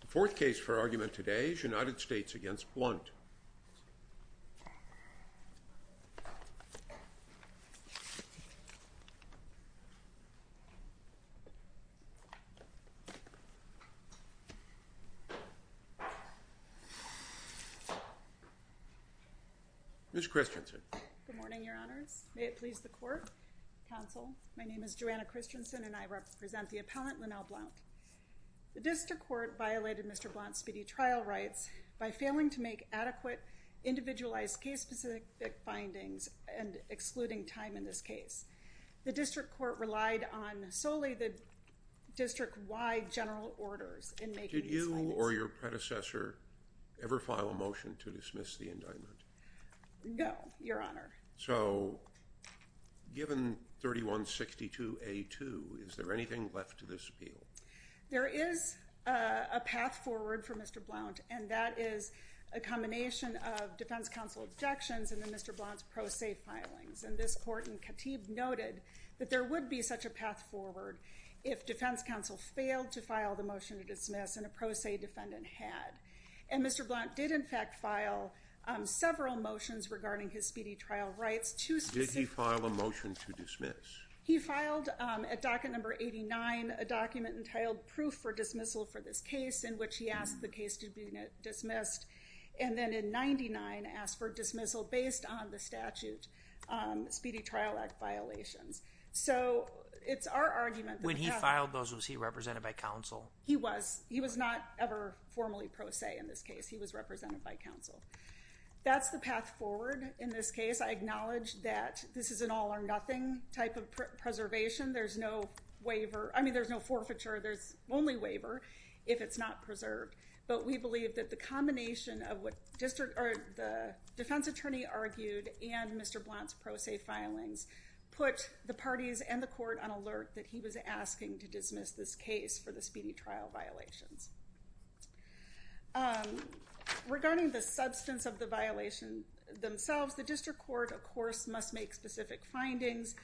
The fourth case for argument today is United States v. Blount. Ms. Christensen. Good morning, your honors. May it please the court, counsel. My name is Joanna Christensen and I represent the appellant, Linnel Blount. The district court violated Mr. Blount's speedy trial rights by failing to make adequate, individualized case-specific findings and excluding time in this case. The district court relied on solely the district-wide general orders in making these findings. Did you or your predecessor ever file a motion to dismiss the indictment? No, your honor. So, given 3162A2, is there anything left to this appeal? There is a path forward for Mr. Blount and that is a combination of defense counsel objections and then Mr. Blount's pro se filings. And this court in Katib noted that there would be such a path forward if defense counsel failed to file the motion to dismiss and a pro se defendant had. And Mr. Blount did in fact file several motions regarding his speedy trial rights. Did he file a motion to dismiss? He filed at docket number 89 a document entitled proof for dismissal for this case in which he asked the case to be dismissed and then in 99 asked for dismissal based on the statute speedy trial. He was not ever formally pro se in this case. He was represented by counsel. That's the path forward in this case. I acknowledge that this is an all or nothing type of preservation. There's no waiver. I mean, there's no forfeiture. There's only waiver if it's not preserved. But we believe that the combination of what the defense attorney argued and Mr. Blount's pro se filings put the parties and the court on alert that he was asking to dismiss this case for the speedy trial violations. Regarding the substance of the violation themselves, the district court, of course, must make specific findings.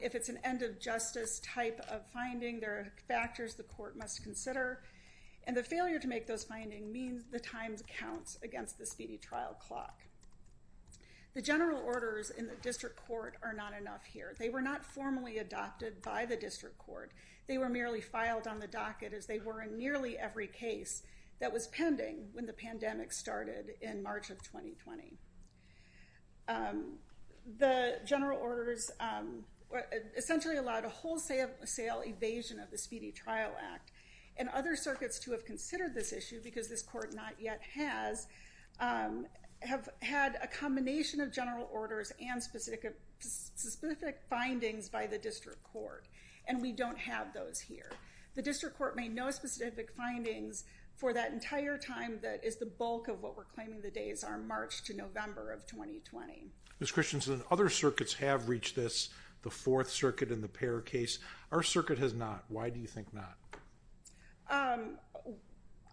If it's an end of justice type of finding, there are factors the court must consider. And the failure to make those findings means the times count against the speedy trial clock. The general orders in the district court are not enough here. They were not formally adopted by the district court. They were merely filed on the docket as they were in nearly every case that was pending when the pandemic started in March of 2020. The general orders essentially allowed a wholesale evasion of the Speedy Trial Act. And other circuits to have considered this issue, because this court not yet has, have had a combination of general orders and specific findings by the district court. And we don't have those here. The district court made no specific findings for that entire time that is the bulk of what we're claiming the days are March to November of 2020. Ms. Christensen, other circuits have reached this, the Fourth Circuit and the Payer case. Our circuit has not. Why do you think not?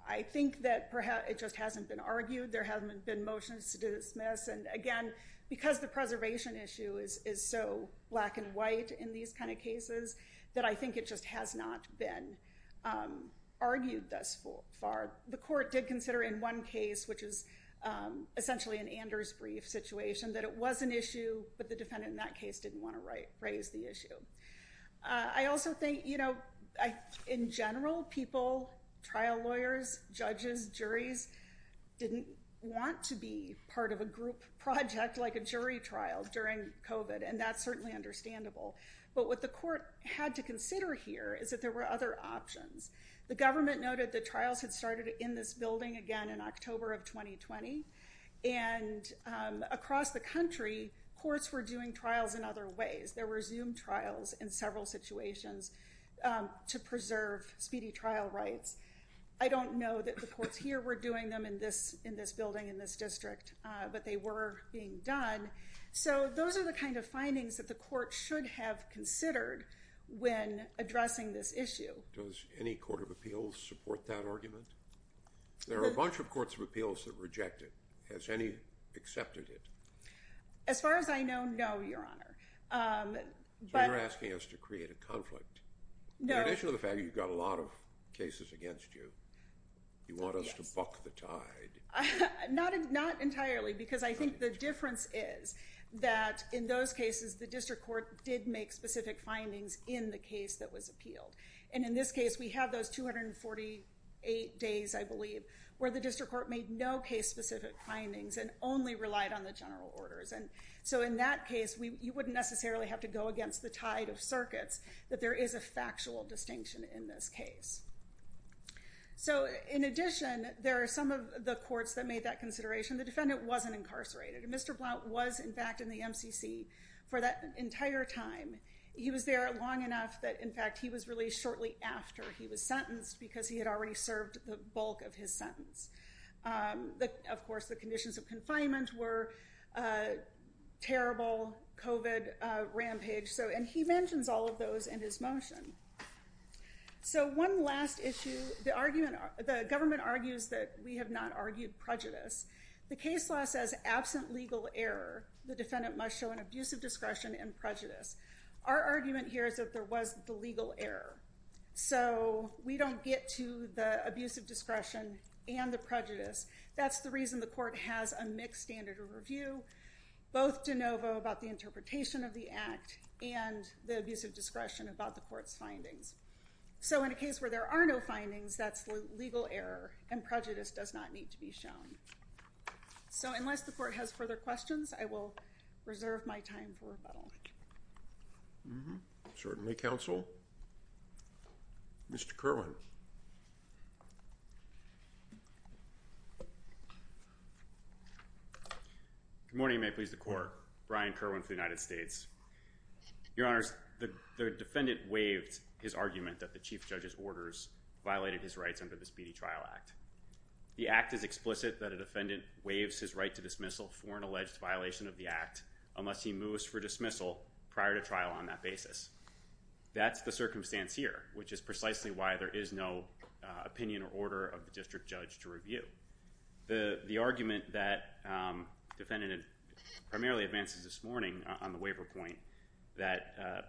I think that perhaps it just hasn't been argued. There haven't been motions to dismiss. And again, because the preservation issue is so black and white in these kind of cases, that I think it just has not been argued thus far. The court did consider in one case, which is essentially an Anders brief situation, that it was an issue, but the defendant in that case didn't want to raise the issue. I also think, you know, in general, people, trial lawyers, judges, juries, didn't want to be part of a group project like a jury trial during COVID. And that's certainly understandable. But what the court had to consider here is that there were other options. The government noted that trials had started in this building again in October of 2020. And across the country, courts were doing trials in other ways. There were Zoom trials in several situations to preserve speedy trial rights. I don't know that the courts here were doing them in this building in this district, but they were being done. So those are the kind of findings that the court should have considered when addressing this issue. Does any Court of Appeals support that argument? There are a bunch of Courts of Appeals that reject it. Has any accepted it? As far as I know, no, Your Honor. You're asking us to create a conflict. In addition to the fact that you've got a lot of cases against you, you want us to buck the tide? Not entirely, because I think the difference is that in those cases, the district court did make specific findings in the case that was appealed. And in this case, we have those 248 days, I believe, where the district court made no case-specific findings and only relied on the general orders. And so in that case, you wouldn't necessarily have to go against the tide of circuits that there is a factual distinction in this case. So in addition, there are some of the courts that made that consideration. The defendant wasn't incarcerated. Mr. Blount was, in fact, in the MCC for that entire time. He was there long enough that, in fact, he was released shortly after he was sentenced because he had already served the bulk of his sentence. Of course, the conditions of confinement were a terrible COVID rampage. And he mentions all of those in his motion. So one last issue. The government argues that we have not argued prejudice. The case law says absent legal error, the defendant must show an abuse of discretion and prejudice. Our argument here is that there was the legal error. So we don't get to the abuse of discretion and the prejudice. That's the reason the court has a mixed standard of review, both de novo about the interpretation of the act and the abuse of discretion about the court's findings. So in a case where there are no findings, that's the legal error, and prejudice does not need to be shown. So unless the court has further questions, I will reserve my time for rebuttal. Certainly, counsel. Mr. Kerwin. Good morning. May it please the court. Brian Kerwin for the United States. Your Honors, the defendant waived his argument that the chief judge's orders violated his rights under the Speedy Trial Act. The act is explicit that a defendant waives his right to dismissal for an alleged violation of the act unless he moves for dismissal prior to trial on that basis. That's the circumstance here, which is precisely why there is no opinion or order of the district judge to review. The argument that the defendant primarily advances this morning on the waiver point, that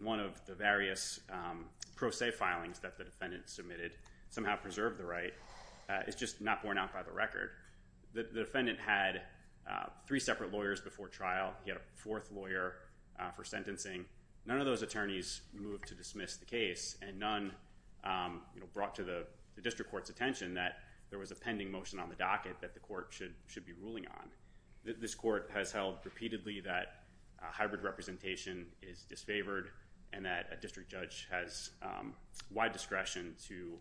one of the various pro se filings that the defendant submitted somehow preserved the right, is just not borne out by the record. The defendant had three separate lawyers before trial. He had a fourth lawyer for sentencing. None of those attorneys moved to dismiss the case, and none brought to the district court's attention that there was a pending motion on the docket that the court should be ruling on. This court has held repeatedly that hybrid representation is disfavored and that a district judge has wide discretion to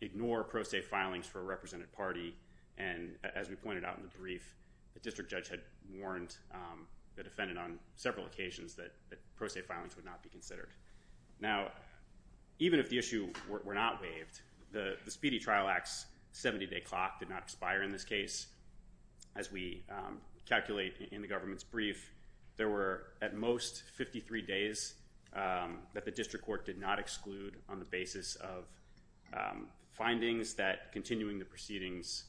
ignore pro se filings for a represented party. And as we pointed out in the brief, the district judge had warned the defendant on several occasions that pro se filings would not be considered. Now, even if the issue were not waived, the Speedy Trial Act's 70-day clock did not expire in this case. As we calculate in the government's record, there are at most 53 days that the district court did not exclude on the basis of findings that continuing the proceedings,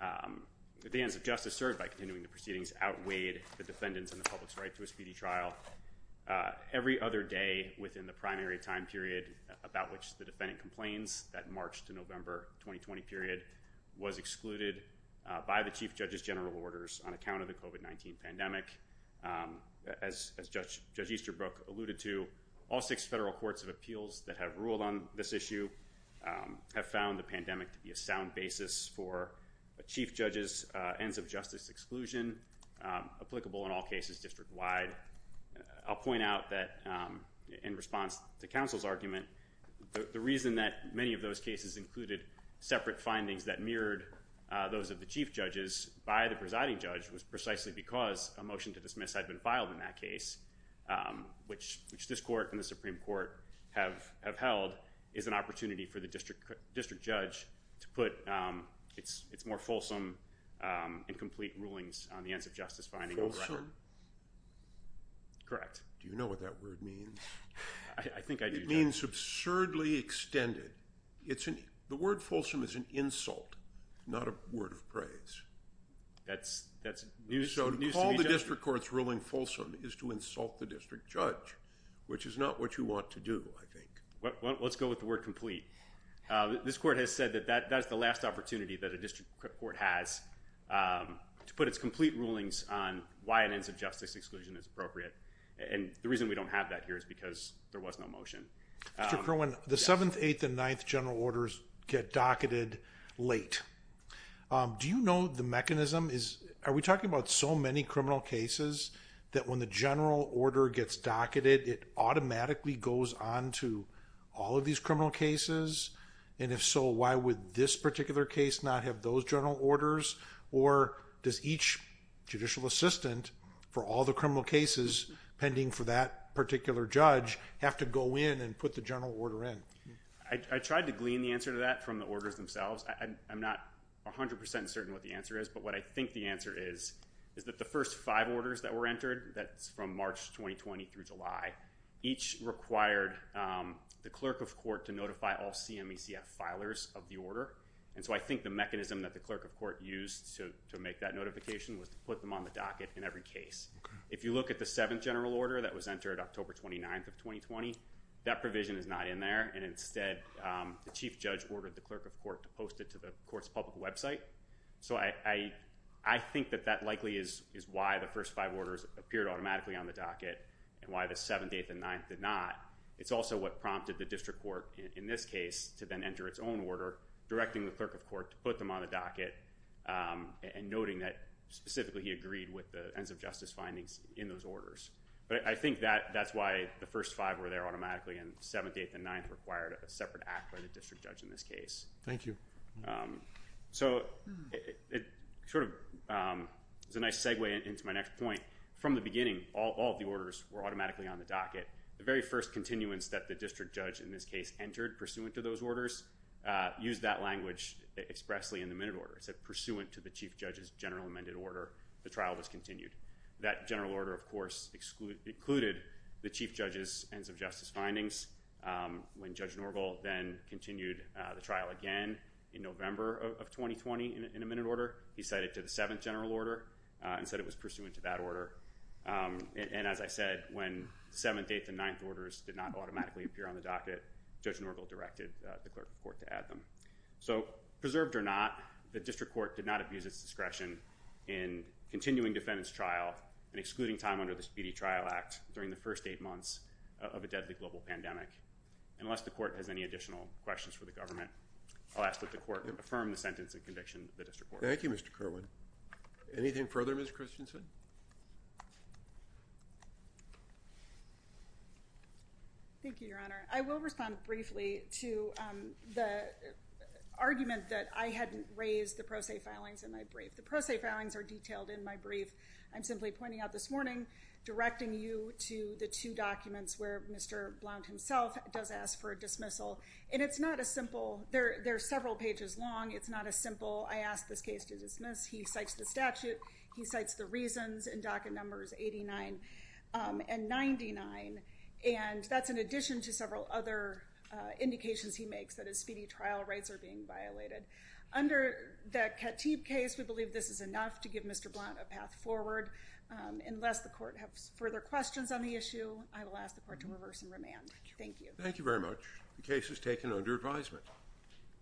that the ends of justice served by continuing the proceedings outweighed the defendant's and the public's right to a speedy trial. Every other day within the primary time period about which the defendant complains, that March to November 2020 period, was excluded by the chief judge's general orders on account of the COVID-19 pandemic. As Judge Easterbrook alluded to, all six federal courts of appeals that have ruled on this issue have found the pandemic to be a sound basis for a chief judge's ends of justice exclusion applicable in all cases district-wide. I'll point out that in response to counsel's argument, the reason that many of those cases included separate findings that mirrored those of the chief judges by the presiding judge was precisely because a motion to dismiss had been filed in that case, which this court and the Supreme Court have held, is an opportunity for the district judge to put its more fulsome and complete rulings on the ends of justice finding on record. Fulsome? Correct. Do you know what that word means? I think I do. Fulsome means absurdly extended. The word fulsome is an insult, not a word of praise. So to call the district court's ruling fulsome is to insult the district judge, which is not what you want to do, I think. Let's go with the word complete. This court has said that that's the last opportunity that a district court has to put its complete rulings on why an ends of justice exclusion is appropriate. And the reason we don't have that here is because there was no motion. Mr. Kerwin, the 7th, 8th, and 9th general orders get docketed late. Do you know the mechanism? Are we talking about so many criminal cases that when the general order gets docketed, it automatically goes on to all of these criminal cases? And if so, why would this particular case not have those general orders? Or does each judicial assistant for all the criminal cases pending for that particular judge have to go in and put the general order in? I tried to glean the answer to that from the orders themselves. I'm not 100% certain what the answer is, but what I think the answer is is that the first five orders that were entered, that's from March 2020 through July, each required the clerk of court to notify all CMECF filers of the order. And so I think the mechanism that the clerk of court used to make that notification was to put them on the docket in every case. If you look at the 7th general order that was entered October 29th of 2020, that provision is not in there. And instead, the chief judge ordered the clerk of court to post it to the court's public website. So I think that that likely is why the first five orders appeared automatically on the docket and why the 7th, 8th, and 9th did not. It's also what prompted the district court in this case to then enter its own order, directing the clerk of court to put them on the docket, and noting that specifically he agreed with the ends of justice findings in those orders. But I think that that's why the first five were there automatically, and 7th, 8th, and 9th required a separate act by the district judge in this case. Thank you. So it sort of is a nice segue into my next point. From the beginning, all of the orders were automatically on the docket. The very first continuance that the district judge in this case entered pursuant to those orders used that language expressly in the minute order. It said, pursuant to the chief judge's general amended order, the trial was continued. That general order, of course, included the chief judge's ends of justice findings. When Judge Norville then continued the trial again in November of 2020 in a minute order, he cited to the 7th general order and said it was pursuant to that order. And as I said, when 7th, 8th, and 9th orders did not automatically appear on the docket, Judge Norville directed the clerk of court to add them. So preserved or not, the district court did not abuse its discretion in continuing defendant's trial and excluding time under the Speedy Trial Act during the first eight months of a deadly global pandemic. Unless the court has any additional questions for the government, I'll ask that the court affirm the sentence and conviction of the district court. Thank you, Mr. Kerwin. Anything further, Ms. Christensen? Thank you, Your Honor. I will respond briefly to the argument that I hadn't raised the pro se filings in my brief. The pro se filings are detailed in my brief. I'm simply pointing out this morning, directing you to the two documents where Mr. Blount himself does ask for a dismissal. And it's not a simple, they're several pages long, it's not a simple, I asked this case to dismiss. He cites the statute, he cites the reasons, and docket numbers 89 and 99. And that's in addition to several other indications he makes that his speedy trial rights are being violated. Under the Katib case, we believe this is enough to give Mr. Blount a path forward. Unless the court has further questions on the issue, I will ask the court to reverse and remand. Thank you. Thank you very much. The case is taken under advisement.